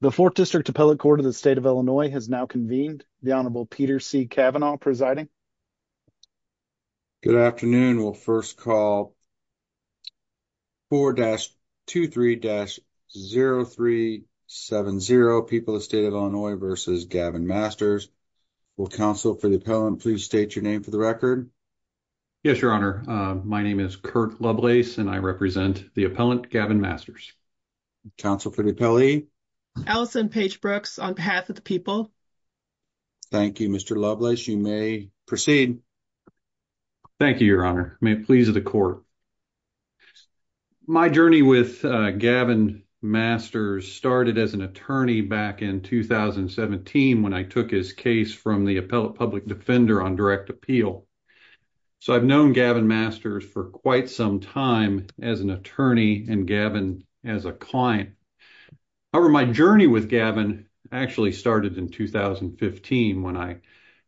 The 4th District Appellate Court of the State of Illinois has now convened. The Honorable Peter C. Cavanaugh presiding. Good afternoon, we'll 1st call. 4-23-0370 people of the state of Illinois versus Gavin Masters. Will counsel for the appellant please state your name for the record. Yes, your honor, my name is Kurt Lovelace and I represent the appellant Gavin Masters. Council for the peli Allison page Brooks on behalf of the people. Thank you, Mr. Lovelace. You may proceed. Thank you, your honor may please of the court. My journey with Gavin Masters started as an attorney back in 2017 when I took his case from the appellate public defender on direct appeal. So I've known Gavin Masters for quite some time as an attorney and Gavin as a client. However, my journey with Gavin actually started in 2015 when I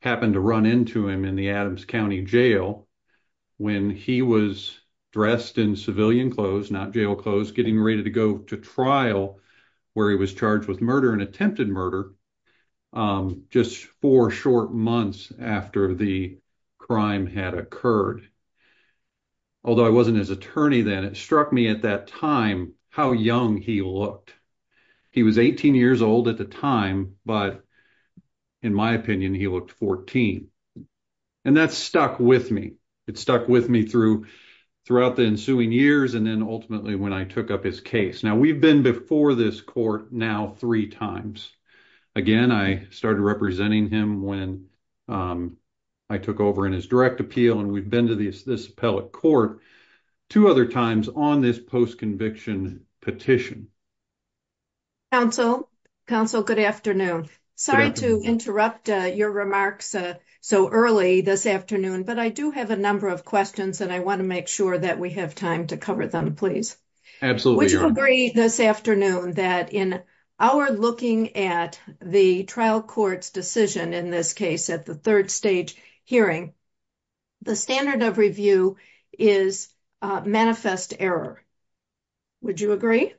happened to run into him in the Adams County Jail when he was dressed in civilian clothes, not jail clothes, getting ready to go to trial where he was charged with murder and attempted It struck me at that time how young he looked. He was 18 years old at the time, but in my opinion, he looked 14 and that stuck with me. It stuck with me through throughout the ensuing years and then ultimately when I took up his case. Now, we've been before this court now 3 times. Again, I started representing him when I took over in his direct appeal and we've been to this court two other times on this post-conviction petition. Counsel, counsel, good afternoon. Sorry to interrupt your remarks so early this afternoon, but I do have a number of questions and I want to make sure that we have time to cover them, please. Would you agree this afternoon that in our looking at the trial court's decision in this case at the third stage hearing, the standard of review is manifest error? Would you agree?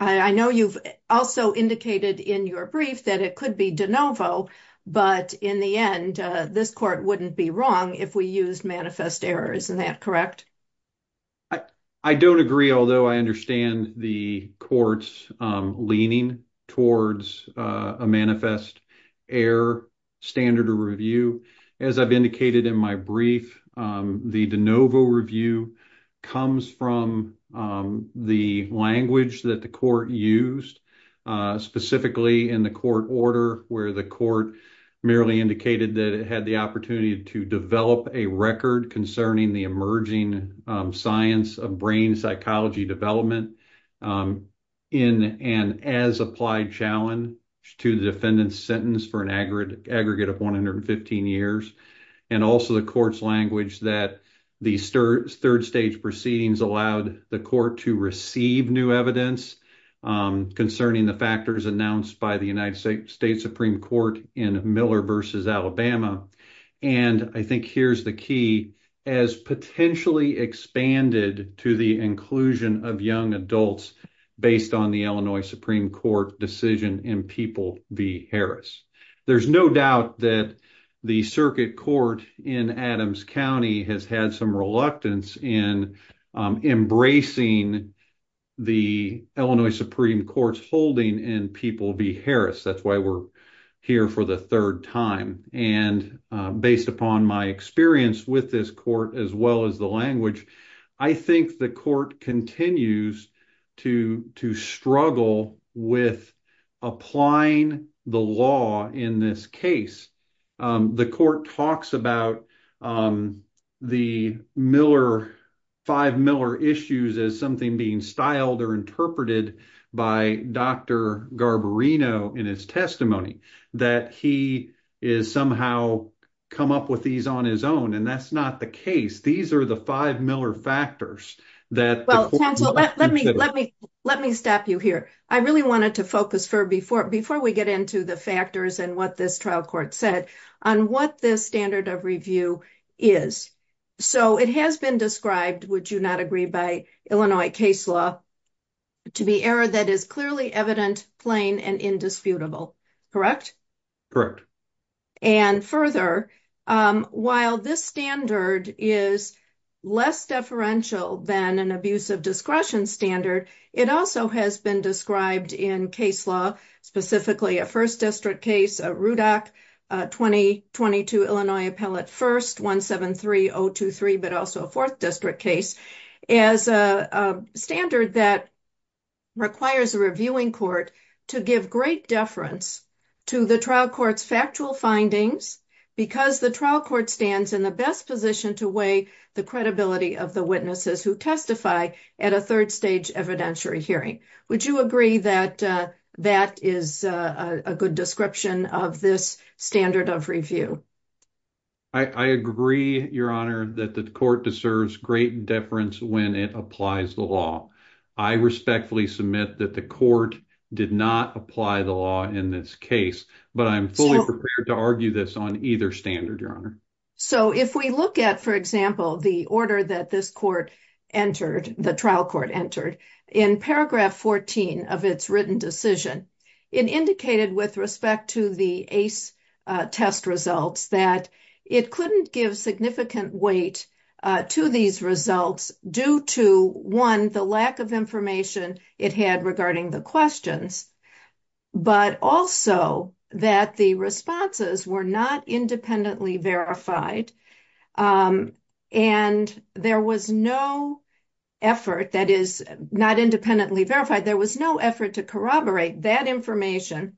I know you've also indicated in your brief that it could be de novo, but in the end, this court wouldn't be wrong if we used manifest error. Isn't that correct? I don't agree, although I understand the court's leaning towards a manifest error standard of review. As I've indicated in my brief, the de novo review comes from the language that the court used, specifically in the court order where the court merely indicated that it had the opportunity to develop a record concerning the science of brain psychology development in an as-applied challenge to the defendant's sentence for an aggregate of 115 years, and also the court's language that the third stage proceedings allowed the court to receive new evidence concerning the factors announced by the United States Supreme Court in Miller v. Alabama, and I think here's the key, as potentially expanded to the inclusion of young adults based on the Illinois Supreme Court decision in People v. Harris. There's no doubt that the circuit court in Adams County has had some reluctance in embracing the Illinois here for the third time, and based upon my experience with this court as well as the language, I think the court continues to struggle with applying the law in this case. The court talks about the five Miller issues as something being styled or interpreted by Dr. Garbarino in his testimony, that he has somehow come up with these on his own, and that's not the case. These are the five Miller factors that the court must consider. Let me stop you here. I really wanted to focus, before we get into the factors and what this trial court said, on what this standard of review is. So, it has been described, would you not agree, by Illinois case law to be error that is clearly evident, plain, and indisputable, correct? Correct. And further, while this standard is less deferential than an abuse of discretion standard, it also has been described in case law, specifically a first district case, a RUDAC 2022 Illinois Appellate First 173023, but also a fourth district case. So, this is a standard that requires a reviewing court to give great deference to the trial court's factual findings, because the trial court stands in the best position to weigh the credibility of the witnesses who testify at a third stage evidentiary hearing. Would you agree that that is a good description of this standard of review? I agree, Your Honor, that the court deserves great deference when it applies the law. I respectfully submit that the court did not apply the law in this case, but I'm fully prepared to argue this on either standard, Your Honor. So, if we look at, for example, the order that this court entered, the trial court entered, in paragraph 14 of its written decision, it indicated with respect to the ACE test results that it couldn't give significant weight to these results due to, one, the lack of information it had regarding the questions, but also that the responses were not independently verified, and there was no effort that is not independently verified, there was no effort to corroborate that information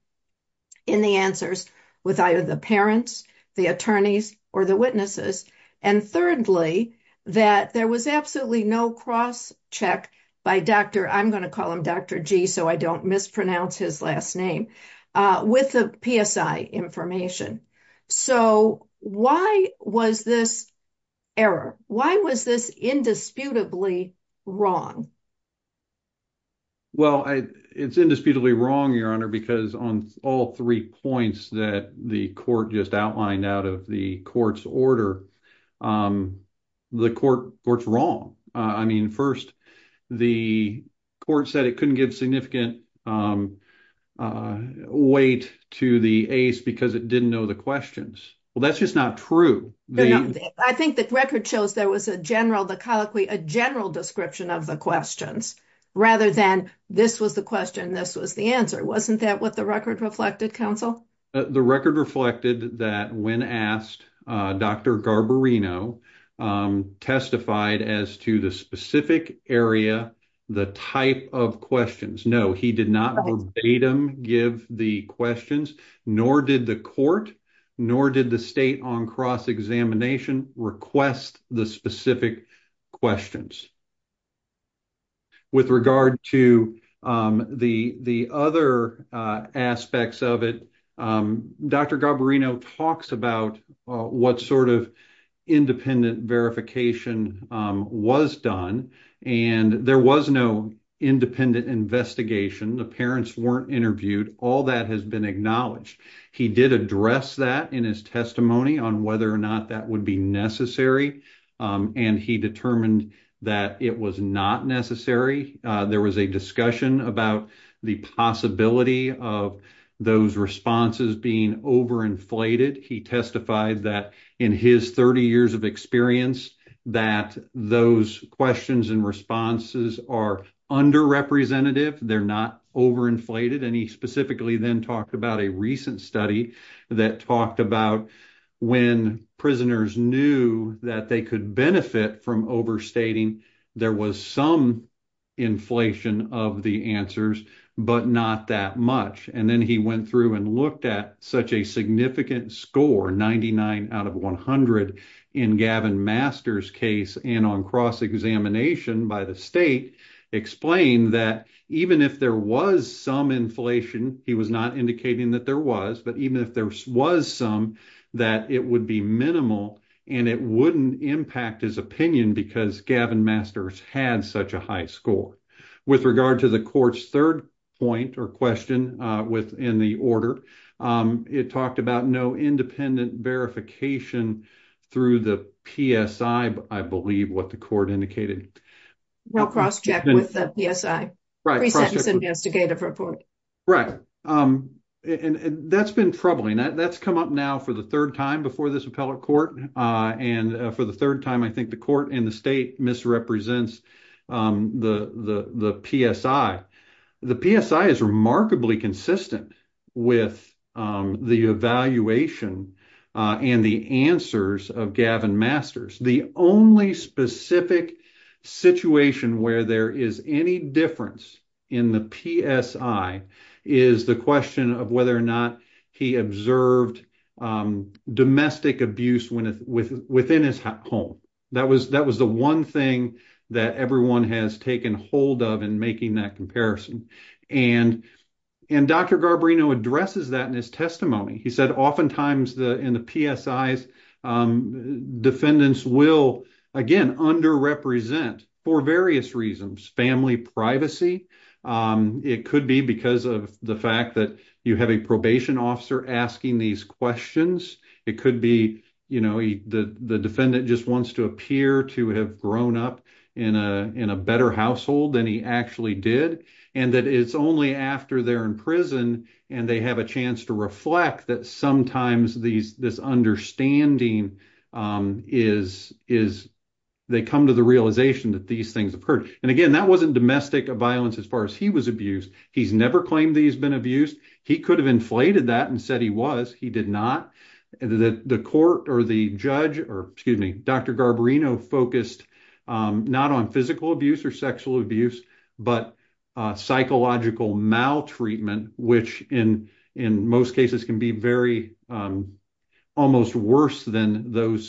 in the answers with either the parents, the attorneys, or the witnesses, and thirdly, that there was absolutely no cross-check by Dr., I'm going to call him Dr. G, so I don't mispronounce his last name, with the PSI information. So, why was this error? Why was this indisputably wrong? Well, it's indisputably wrong, Your Honor, because on all three points that the court just outlined out of the court's order, the court's wrong. I mean, first, the court said it couldn't give significant weight to the ACE because it didn't know the questions. Well, that's just not true. I think the record shows there was a general, the colloquy, a general description of the questions rather than this was the question, this was the answer. Wasn't that what the record reflected, counsel? The record reflected that when asked, Dr. Garbarino testified as to the specific area, the type of questions. No, he did not verbatim give the questions, nor did the court, nor did the state on cross-examination request the specific questions. With regard to the other aspects of it, Dr. Garbarino talks about what sort of independent verification was done, and there was no independent investigation. The parents weren't interviewed. All that has been acknowledged. He did address that in his testimony on whether or not that would be necessary, and he determined that it was not necessary. There was a discussion about the possibility of those responses being overinflated. He testified that in his 30 years of experience that those questions and responses are under-representative. They're not overinflated, and he specifically then talked about a recent study that talked about when prisoners knew that they could benefit from overstating, there was some inflation of the answers, but not that much, and then he went through and looked at such a significant score, 99 out of 100, in Gavin Master's case and on cross-examination by the state, explained that even if there was some inflation, he was not indicating that there was, but even if there was some, that it would be minimal, and it wouldn't impact his opinion because Gavin Master's had such a high score. With regard to the court's third point or question within the order, it talked about no independent verification through the PSI, I believe what the report indicated. Well, cross-check with the PSI, pre-sentence investigative report. Right, and that's been troubling. That's come up now for the third time before this appellate court, and for the third time I think the court and the state misrepresents the PSI. The PSI is remarkably consistent with the evaluation and the answers of Gavin Master's. The only specific situation where there is any difference in the PSI is the question of whether or not he observed domestic abuse within his home. That was the one thing that everyone has taken hold of in making that comparison, and Dr. Garbarino addresses that in his testimony. He said oftentimes in the PSIs, defendants will, again, under-represent for various reasons. Family privacy. It could be because of the fact that you have a probation officer asking these questions. It could be, you know, the defendant just wants to appear to have grown up in a better household than he actually did, and that it's only after they're in prison and they have a chance to reflect that sometimes this understanding is, they come to the realization that these things have occurred. And again, that wasn't domestic violence as far as he was abused. He's never claimed that he's been abused. He could have inflated that and said he was. He did not. The court or the judge, or excuse me, Dr. Garbarino focused not on physical abuse or sexual abuse, but psychological maltreatment, which in most cases can be very, almost worse than those situations.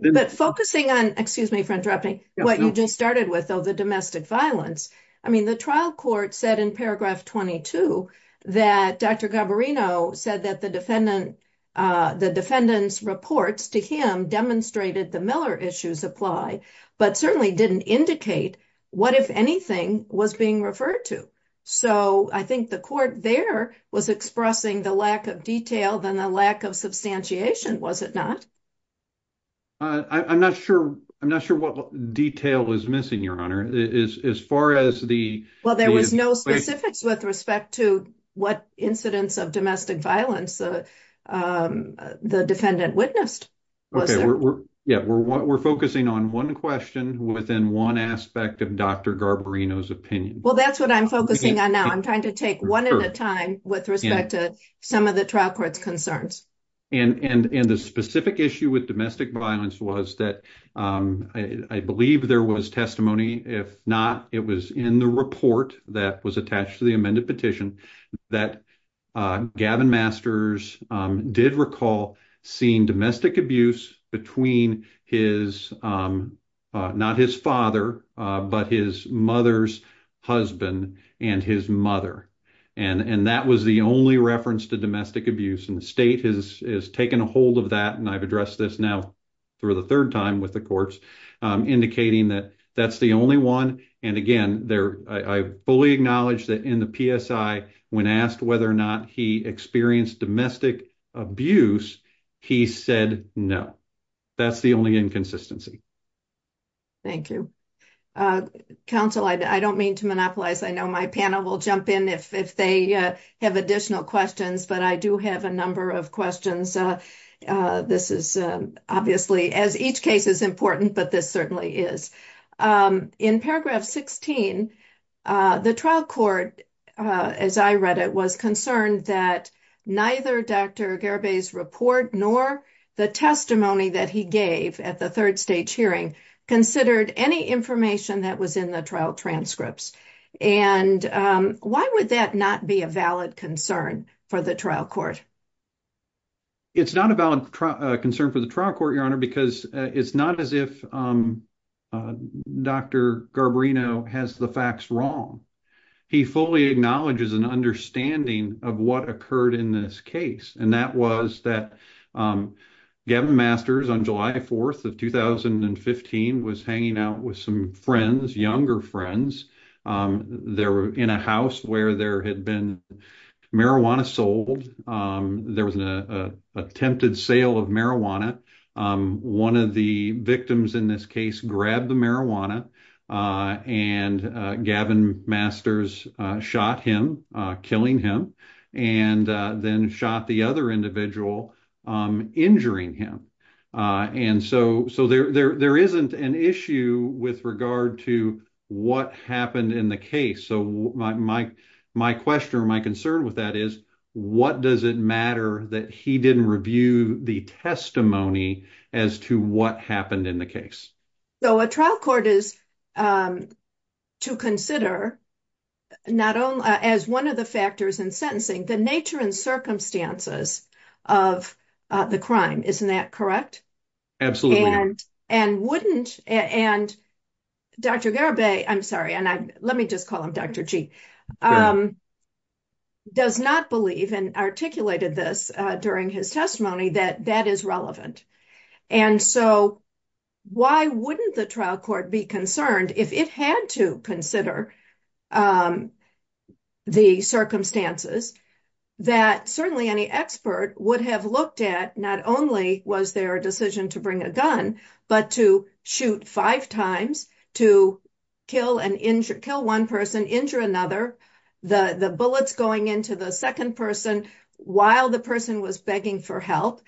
But focusing on, excuse me for interrupting, what you just started with, though, the domestic violence. I mean, the trial court said in paragraph 22 that Dr. Garbarino said that the defendant, the defendant's reports to him demonstrated the Miller issues apply, but certainly didn't indicate what, if anything, was being referred to. So, I think the court there was expressing the lack of detail than the lack of substantiation, was it not? I'm not sure. I'm not sure what detail is missing, Your Honor, as far as the- Well, there was no specifics with respect to what incidents of domestic violence the defendant witnessed. Yeah, we're focusing on one question within one aspect of Dr. Garbarino's opinion. Well, that's what I'm focusing on now. I'm trying to take one at a time with respect to some of the trial court's concerns. And the specific issue with domestic violence, I believe there was testimony, if not, it was in the report that was attached to the amended petition that Gavin Masters did recall seeing domestic abuse between his, not his father, but his mother's husband and his mother. And that was the only reference to domestic abuse. And the state has taken a hold of that, and I've addressed this now for the third time with the indicating that that's the only one. And again, I fully acknowledge that in the PSI, when asked whether or not he experienced domestic abuse, he said no. That's the only inconsistency. Thank you. Counsel, I don't mean to monopolize. I know my panel will jump in if they have additional questions, but I do have a number of questions. This is obviously, as each case is important, but this certainly is. In paragraph 16, the trial court, as I read it, was concerned that neither Dr. Garba's report nor the testimony that he gave at the third stage hearing considered any information that was in the trial transcripts. And why would that not be a valid concern for the trial court? It's not a valid concern for the trial court, Your Honor, because it's not as if Dr. Garbarino has the facts wrong. He fully acknowledges an understanding of what occurred in this case, and that was that Gavin Masters, on July 4th of 2015, was hanging out with some friends, younger friends. They were in a house where there had been marijuana sold. There was an attempted sale of marijuana. One of the victims in this case grabbed the marijuana, and Gavin Masters shot him, killing him, and then shot the other individual, injuring him. And so there isn't an issue with regard to what happened in the case. So my question or my concern with that is, what does it matter that he didn't review the testimony as to what happened in the case? So a trial court is to consider, as one of the factors in sentencing, the nature and circumstances of the crime. Isn't that correct? Absolutely. And wouldn't, and Dr. Garibay, I'm sorry, and let me just call him Dr. G, does not believe, and articulated this during his testimony, that that is relevant. And so why wouldn't the trial court be concerned if it had to consider the circumstances that certainly any expert would have looked at, not only was there a decision to bring a gun, but to shoot five times, to kill one person, injure another, the bullets going into the second person while the person was begging for help?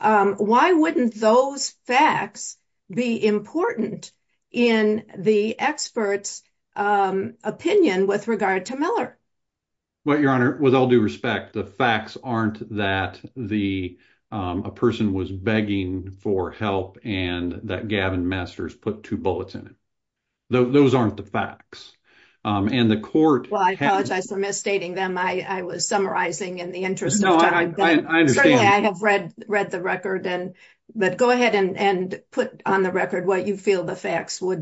Why wouldn't those facts be important in the expert's opinion with regard to Miller? Well, Your Honor, with all due respect, the facts aren't that a person was begging for help and that Gavin Messers put two bullets in it. Those aren't the facts. And the court- Well, I apologize for misstating them. I was summarizing in the interest of time. No, I understand. Certainly, I have read the record. But go would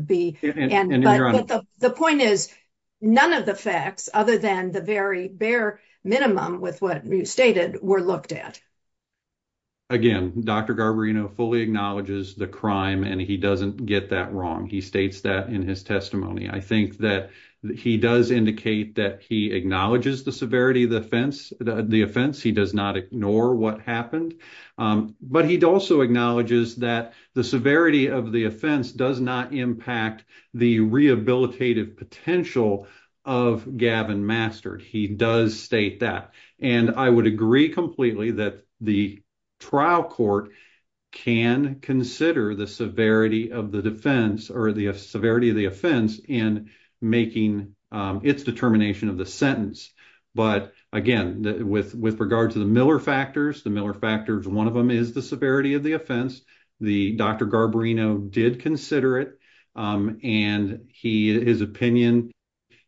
be. But the point is, none of the facts, other than the very bare minimum with what you stated, were looked at. Again, Dr. Garibay fully acknowledges the crime and he doesn't get that wrong. He states that in his testimony. I think that he does indicate that he acknowledges the severity of the offense. He does not ignore what happened. But he also acknowledges that the severity of the offense does not impact the rehabilitative potential of Gavin Messers. He does state that. And I would agree completely that the trial court can consider the severity of the defense or the severity of the offense in making its determination of the sentence. But again, with regard to the Miller factors, one of them is the severity of the offense. The Dr. Garbarino did consider it. And his opinion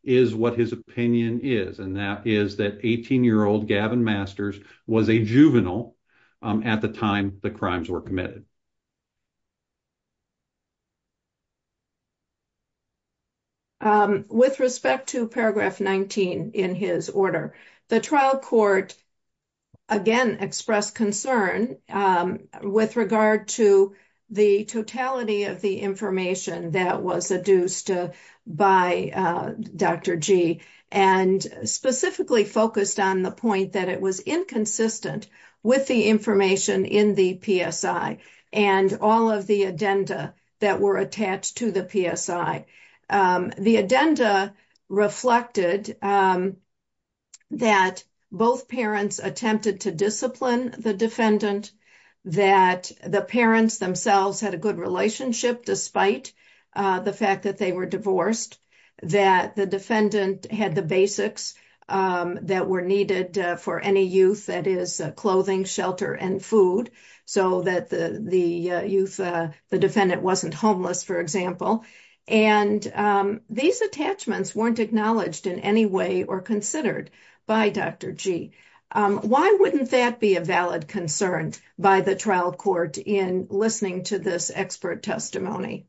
is what his opinion is. And that is that 18-year-old Gavin Messers was a juvenile at the time the crimes were committed. With respect to paragraph 19 in his order, the trial court again expressed concern with regard to the totality of the information that was adduced by Dr. G. And specifically focused on the point that it was inconsistent with the information in the PSI and all of the addenda that were attached to the PSI. The addenda reflected that both parents attempted to discipline the defendant, that the parents themselves had a good relationship despite the fact that they were divorced, that the defendant had the basics that were needed for any youth, that is clothing, shelter, and food, so that the youth, the defendant wasn't homeless, for example. And these attachments weren't acknowledged in any way or considered by Dr. G. Why wouldn't that be a valid concern by the trial court in listening to this expert testimony?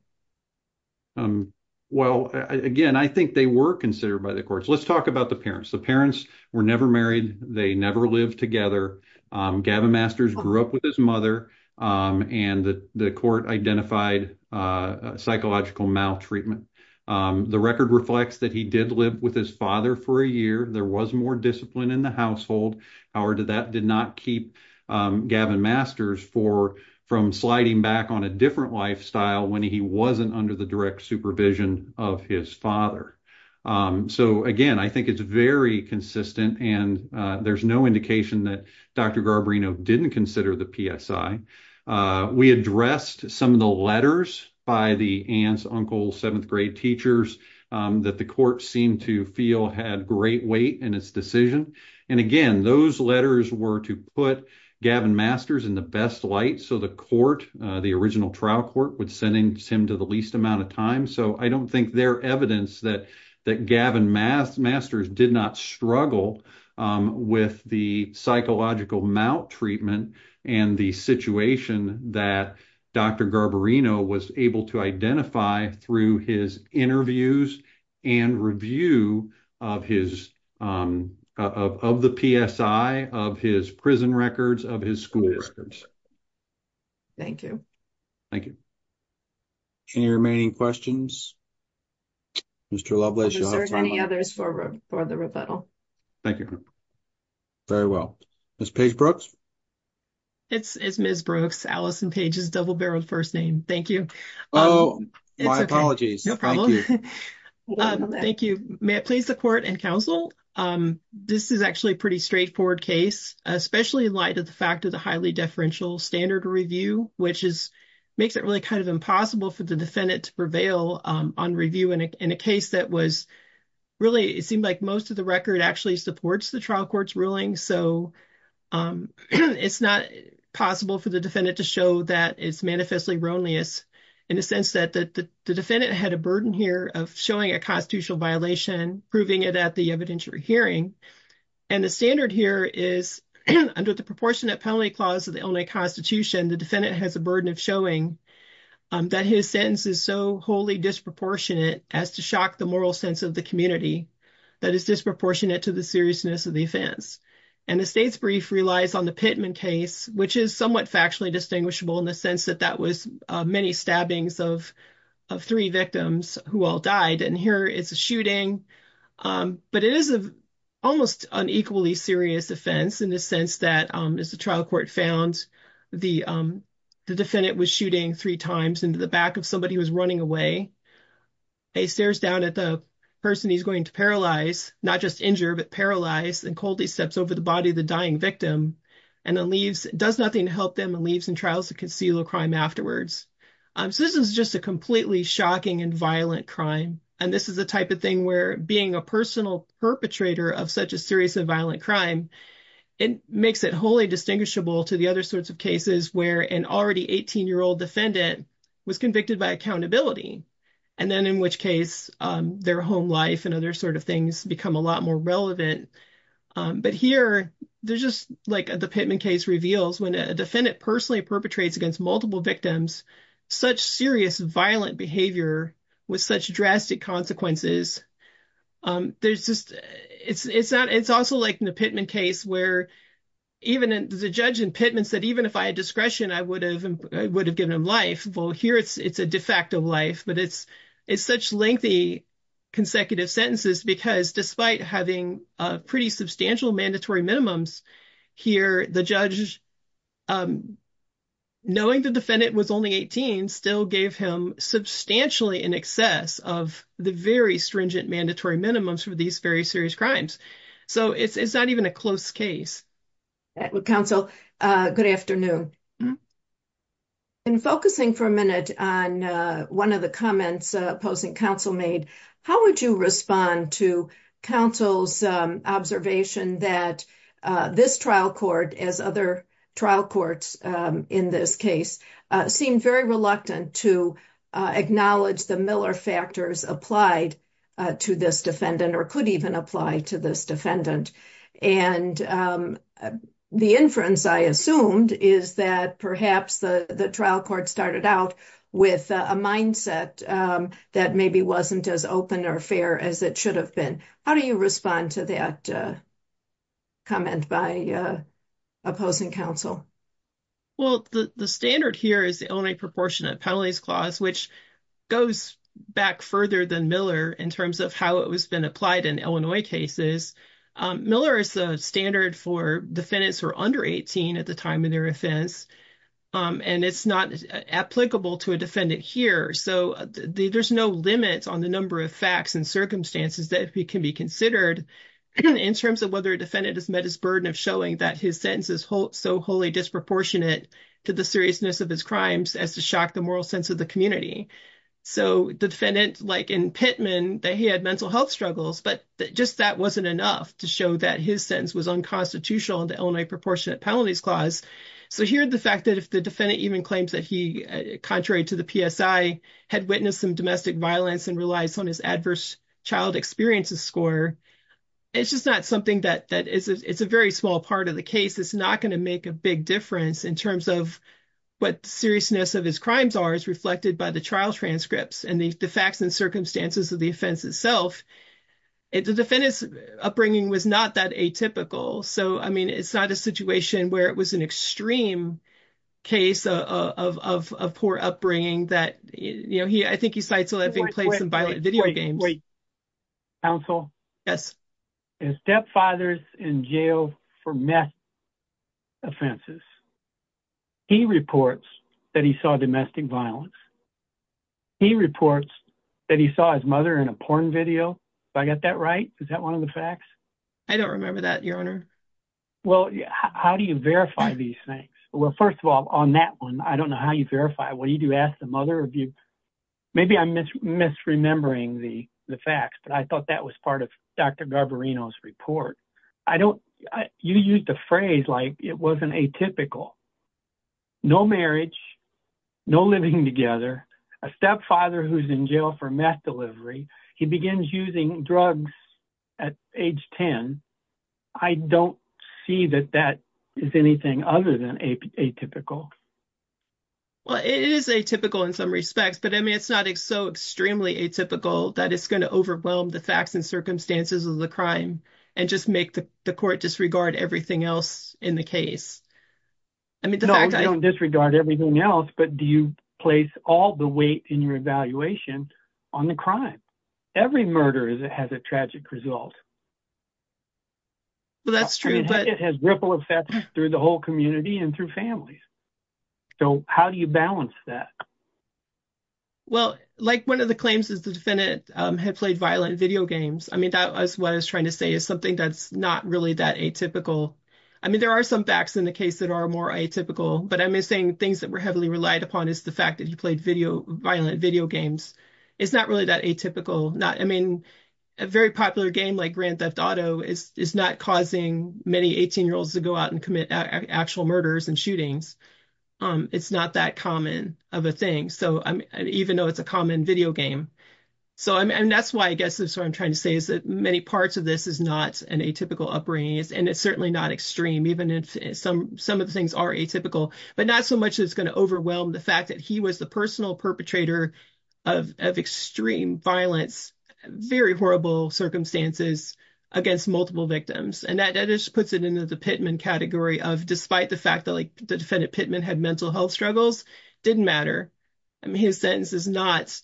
Well, again, I think they were considered by the courts. Let's talk about the parents. The parents were never married. They never lived together. Gavin Messers grew up with his mother. And the court identified psychological maltreatment. The record reflects that he did live with his father for a year. There was more discipline in the household. However, that did not keep Gavin Messers from sliding back on a different lifestyle when he wasn't under the direct supervision of his father. So, again, I think it's very consistent. And there's no indication that Dr. Garbarino didn't consider the PSI. We addressed some of the letters by the aunts, uncles, seventh grade teachers that the court seemed to feel had great weight in its decision. And, again, those letters were to put Gavin Messers in the best light so the court, the original trial court, would send him to the least amount of time. So I don't think there's evidence that Gavin Messers did not struggle with the psychological maltreatment and the situation that Dr. Garbarino was able to identify through his interviews and review of his, of the PSI, of his prison records, of his school records. Thank you. Thank you. Any remaining questions? Mr. Lovelace, do you have any others for the rebuttal? Thank you. Very well. Ms. Paige Brooks? It's Ms. Brooks, Allison Paige's double-barreled first name. Thank you. Oh, my apologies. No problem. Thank you. May it please the court and counsel, this is actually a pretty straightforward case, especially in light of the fact of the highly deferential standard review, which is, makes it really kind of impossible for the defendant to prevail on review in a case that was really, it seemed like most of the record actually supports the trial court's ruling. So it's not possible for the defendant to show that it's manifestly erroneous in the sense that the defendant had a burden here of showing a constitutional violation, proving it at the evidentiary hearing. And the standard here is under the proportionate penalty clause of the Illinois Constitution, the defendant has a burden of showing that his sentence is so wholly disproportionate as to shock the moral sense of the community, that is disproportionate to the seriousness of the offense. And the state's brief relies on the Pittman case, which is somewhat factually distinguishable in the sense that that was many stabbings of three victims who all died. And here it's a shooting, but it is an almost unequally serious offense in the sense that, as the trial court found, the defendant was shooting three times into the back of somebody who was running away. He stares down at the person he's going to paralyze, not just injure, but paralyze and coldly steps over the body of the dying victim and then leaves, does nothing to help them and leaves in trials to conceal the crime afterwards. So this is just a completely shocking and violent crime. And this is the type of thing where being a personal perpetrator of such a serious and violent crime, it makes it wholly distinguishable to the other sorts of cases where an already 18-year-old defendant was convicted by accountability. And then in which case their home life and other sort of things become a lot more relevant. But here, there's just like the Pittman case reveals when a defendant personally perpetrates against multiple victims, such serious violent behavior with such drastic consequences. There's just, it's not, it's also like in the Pittman case where even the judge in Pittman said, even if I had discretion, I would have given him life. Well, here it's a de facto life, but it's such lengthy consecutive sentences because despite having a pretty substantial mandatory minimums here, the judge, knowing the defendant was only 18, still gave him substantially in excess of the very stringent mandatory minimums for these very serious crimes. So it's not even a close case. Counsel, good afternoon. In focusing for a minute on one of the comments opposing counsel made, how would you respond to counsel's observation that this trial court, as other trial courts in this case, seemed very reluctant to acknowledge the Miller factors applied to this defendant, or could even apply to this defendant? And the inference I assumed is that perhaps the trial court started out with a mindset that maybe wasn't as open or fair as it should have been. How do you respond to that comment by opposing counsel? Well, the standard here is the only proportionate penalties clause, which goes back further than Miller in terms of how it was been applied in Illinois cases. Miller is a standard for defendants who are under 18 at the time of their offense, and it's not applicable to a defendant here. So there's no limits on the number of facts and circumstances that can be considered in terms of whether a defendant has met his burden of showing that his sentence is so wholly disproportionate to the seriousness of his as to shock the moral sense of the community. So the defendant, like in Pittman, that he had mental health struggles, but just that wasn't enough to show that his sentence was unconstitutional in the Illinois proportionate penalties clause. So here, the fact that if the defendant even claims that he, contrary to the PSI, had witnessed some domestic violence and relies on his adverse child experiences score, it's just not something that is a very small part of the case. It's not to make a big difference in terms of what seriousness of his crimes are as reflected by the trial transcripts and the facts and circumstances of the offense itself. The defendant's upbringing was not that atypical. So, I mean, it's not a situation where it was an extreme case of poor upbringing that, you know, I think he cites having played some violent video games. Counsel? Yes. His stepfather's in jail for meth offenses. He reports that he saw domestic violence. He reports that he saw his mother in a porn video. Do I get that right? Is that one of the facts? I don't remember that, your honor. Well, how do you verify these things? Well, first of all, on that one, I don't know how you verify it. What do you do? Ask the mother? Maybe I'm misremembering the facts, but I thought that was part of Dr. Garbarino's report. You used the phrase like it wasn't atypical. No marriage, no living together, a stepfather who's in jail for meth delivery. He begins using drugs at age 10. I don't see that that is anything other than atypical. Well, it is atypical in some respects, but I mean, it's not so extremely atypical that it's going to overwhelm the facts and circumstances of the crime and just make the court disregard everything else in the case. No, you don't disregard everything else, but do you place all the weight in your evaluation on the crime? Every murder has a tragic result. Well, that's true, but- It has ripple effects through the whole community and through families. So how do you balance that? Well, like one of the claims is the defendant had played violent video games. I mean, that was what I was trying to say is something that's not really that atypical. I mean, there are some facts in the case that are more atypical, but I'm saying things that were heavily relied upon is the fact that he played violent video games. It's not really atypical. I mean, a very popular game like Grand Theft Auto is not causing many 18-year-olds to go out and commit actual murders and shootings. It's not that common of a thing, even though it's a common video game. And that's why I guess that's what I'm trying to say is that many parts of this is not an atypical upbringing, and it's certainly not extreme, even if some of the things are atypical, but not so much that it's going to overwhelm the fact that he was the personal perpetrator of extreme violence, very horrible circumstances against multiple victims. And that just puts it into the Pittman category of despite the fact that the defendant Pittman had mental health struggles, didn't matter. I mean, his sentence is not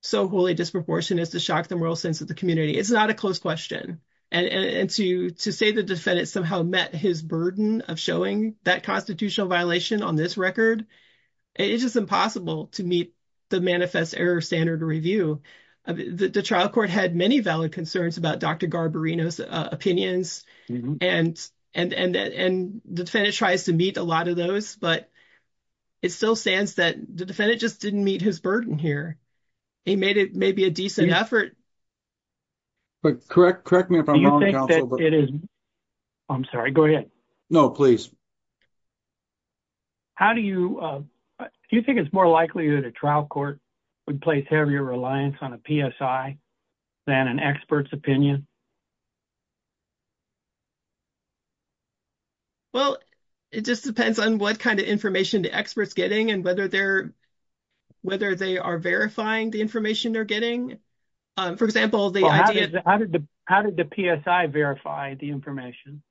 so wholly disproportionate as to shock the moral sense of the community. It's not a close question. And to say the defendant somehow met his burden of showing that constitutional violation on this record, it's just impossible to meet the manifest error standard review. The trial court had many valid concerns about Dr. Garbarino's opinions, and the defendant tries to meet a lot of those, but it still stands that the defendant just didn't meet his burden here. He made it maybe a decent effort. But correct, correct me if I'm wrong. Do you think that it is, I'm sorry, go ahead. No, please. How do you, do you think it's more likely that a trial court would place heavier reliance on a PSI than an expert's opinion? Well, it just depends on what kind of information the expert's getting and whether they're, whether they are verifying the information they're getting. For example, the idea of- How did the PSI verify the information?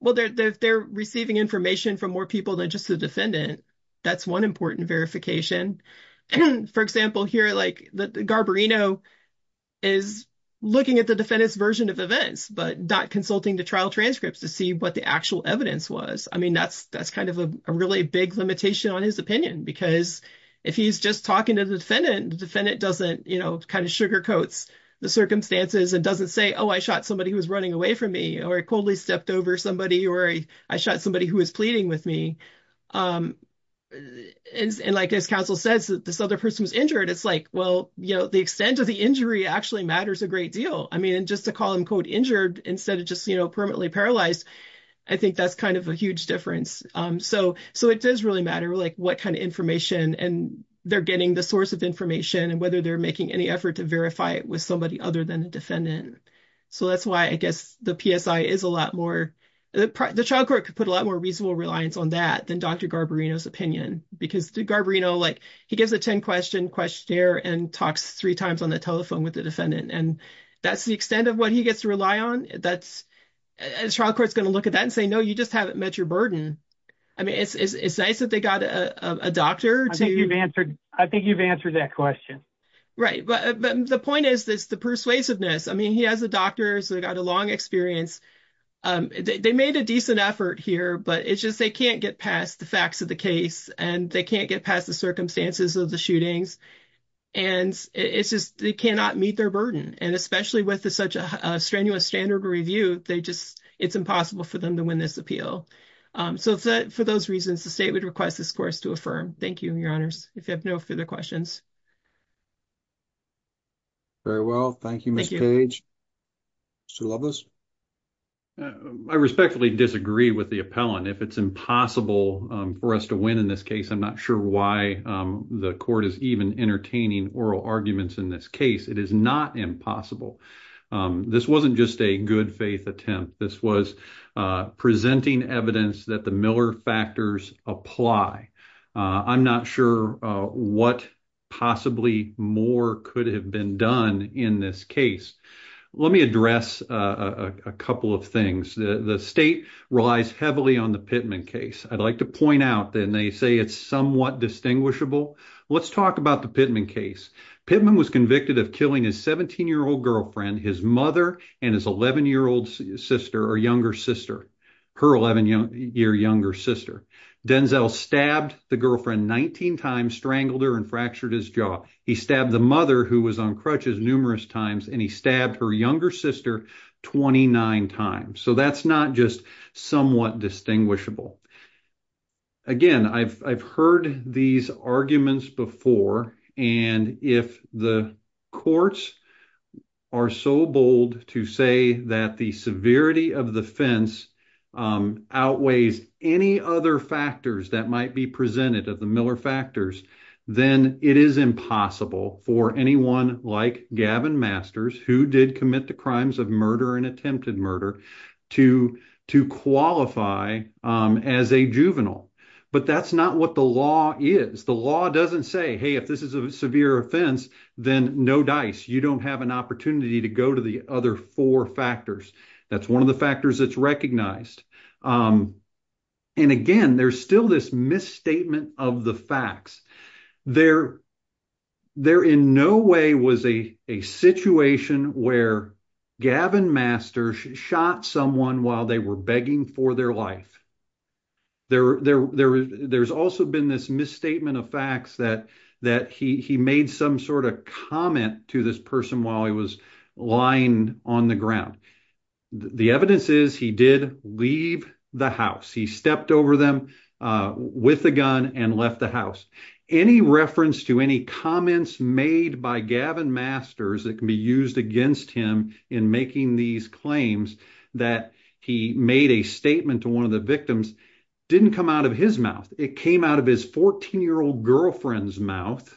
Well, they're receiving information from more people than just the defendant. That's one important verification. For example, here, like Garbarino is looking at the defendant's version of events, but not consulting the trial transcripts to see what the actual evidence was. That's a really big limitation on his opinion, because if he's just talking to the defendant, the defendant doesn't sugarcoats the circumstances and doesn't say, oh, I shot somebody who was running away from me, or I coldly stepped over somebody, or I shot somebody who was pleading with me. Like as counsel says, this other person was injured. It's like, well, the extent of the injury actually matters a great deal. Just to call him, quote, injured instead of just permanently paralyzed, I think that's kind of a huge difference. So it does really matter like what kind of information and they're getting the source of information and whether they're making any effort to verify it with somebody other than a defendant. So that's why I guess the PSI is a lot more, the trial court could put a lot more reasonable reliance on that than Dr. Garbarino's opinion, because Garbarino, like he gives a 10-question questionnaire and talks three times on the telephone with the defendant, and that's the extent of what he gets to rely on. The trial court's going to look at that and say, no, you just haven't met your burden. I mean, it's nice that they got a doctor to- I think you've answered that question. Right. But the point is this, the persuasiveness. I mean, he has a doctor, so he got a long experience. They made a decent effort here, but it's just, they can't get past the facts of the case and they can't get past the circumstances of the shootings. And it's just, they cannot meet their burden. And especially with such a strenuous standard review, they just, it's impossible for them to win this appeal. So for those reasons, the state would request this course to affirm. Thank you, your honors. If you have no further questions. Very well. Thank you, Ms. Page. Mr. Loveless? I respectfully disagree with the appellant. If it's impossible for us to win in this case, I'm not sure why the court is even entertaining oral arguments in this case. It is not impossible. This wasn't just a good faith attempt. This was presenting evidence that the Miller factors apply. I'm not sure what possibly more could have been done in this case. Let me address a couple of things. The state relies heavily on the Pittman case. I'd like to point out that they say it's somewhat distinguishable. Let's talk about the Pittman case. Pittman was convicted of killing his 17-year-old girlfriend, his mother, and his 11-year-old sister or younger sister, her 11-year younger sister. Denzel stabbed the girlfriend 19 times, strangled her and fractured his jaw. He stabbed the mother who was on crutches numerous times and he stabbed her younger sister 29 times. So that's not just somewhat distinguishable. Again, I've heard these arguments before and if the courts are so bold to say that the severity of the fence outweighs any other factors that might be presented of the Miller factors, then it is impossible for anyone like Gavin Masters, who did commit the crimes of murder and attempted murder, to qualify as a juvenile. But that's not what the law is. The law doesn't say, hey, if this is a severe offense, then no dice. You don't have an opportunity to go to the other four factors. That's one of the factors that's recognized. And again, there's still this misstatement of the facts. There in no way was a situation where Gavin Masters shot someone while they were begging for their life. There's also been this misstatement of facts that he made some sort of comment to this person while he was lying on the ground. The evidence is he did leave the house. He stepped over them with a gun and left the house. Any reference to any comments made by Gavin Masters that can be used against him in making these claims that he made a statement to one of the victims didn't come out of his mouth. It came out of his 14-year-old girlfriend's mouth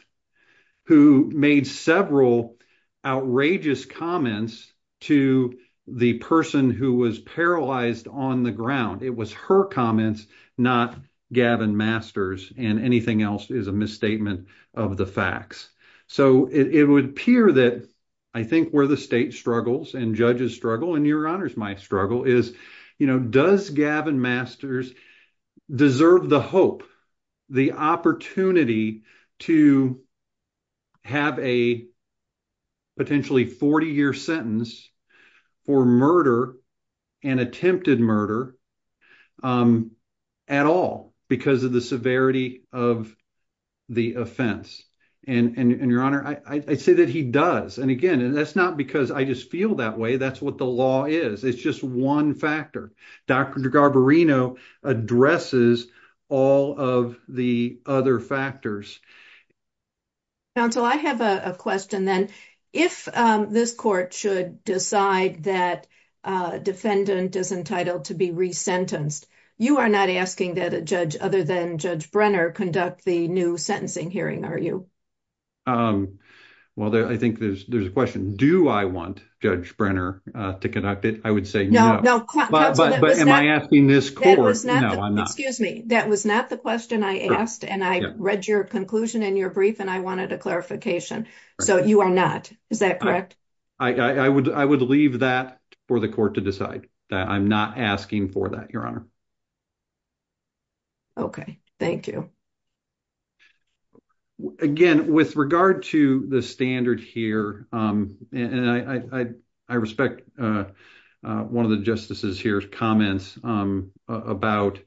who made several outrageous comments to the person who was paralyzed on the ground. It was her comments, not Gavin Masters, and anything else is a misstatement of the facts. So it would appear that I think where the state struggles and judges struggle, and your honors my struggle, is, does Gavin Masters deserve the hope, the opportunity, to have a potentially 40-year sentence for murder and attempted murder at all because of the severity of the offense? Your honor, I say that he does. And again, that's not because I just feel that way. That's what the law is. It's just one factor. Dr. Garbarino addresses all of the other factors. Counsel, I have a question then. If this court should decide that a defendant is entitled to be resentenced, you are not asking that a judge other than Judge Brenner conduct the new sentencing hearing, are you? Well, I think there's a question. Do I want Judge Brenner to conduct it? I would say no. But am I asking this court? No, I'm not. Excuse me. That was not the question I asked, and I read your conclusion in your brief, and I wanted a clarification. So you are not. Is that correct? I would leave that for the court to decide. I'm not asking for that, your honor. Okay. Thank you. Again, with regard to the standard here, and I respect one of the justices here's comments about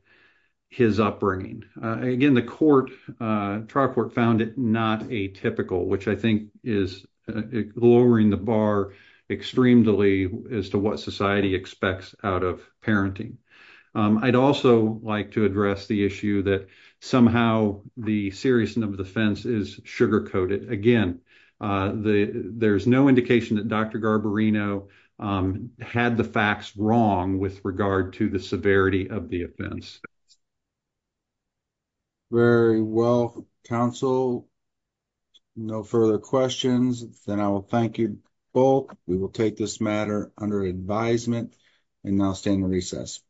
his upbringing. Again, the court, trial court, found it not atypical, which I think is lowering the bar extremely as to what society expects out of parenting. I'd also like to address the issue that somehow the seriousness of the offense is sugar-coated. Again, there's no indication that Dr. Garbarino had the facts wrong with regard to the severity of the offense. Very well, counsel. No further questions. Then I will thank you both. We will take this matter under advisement and now stand recess.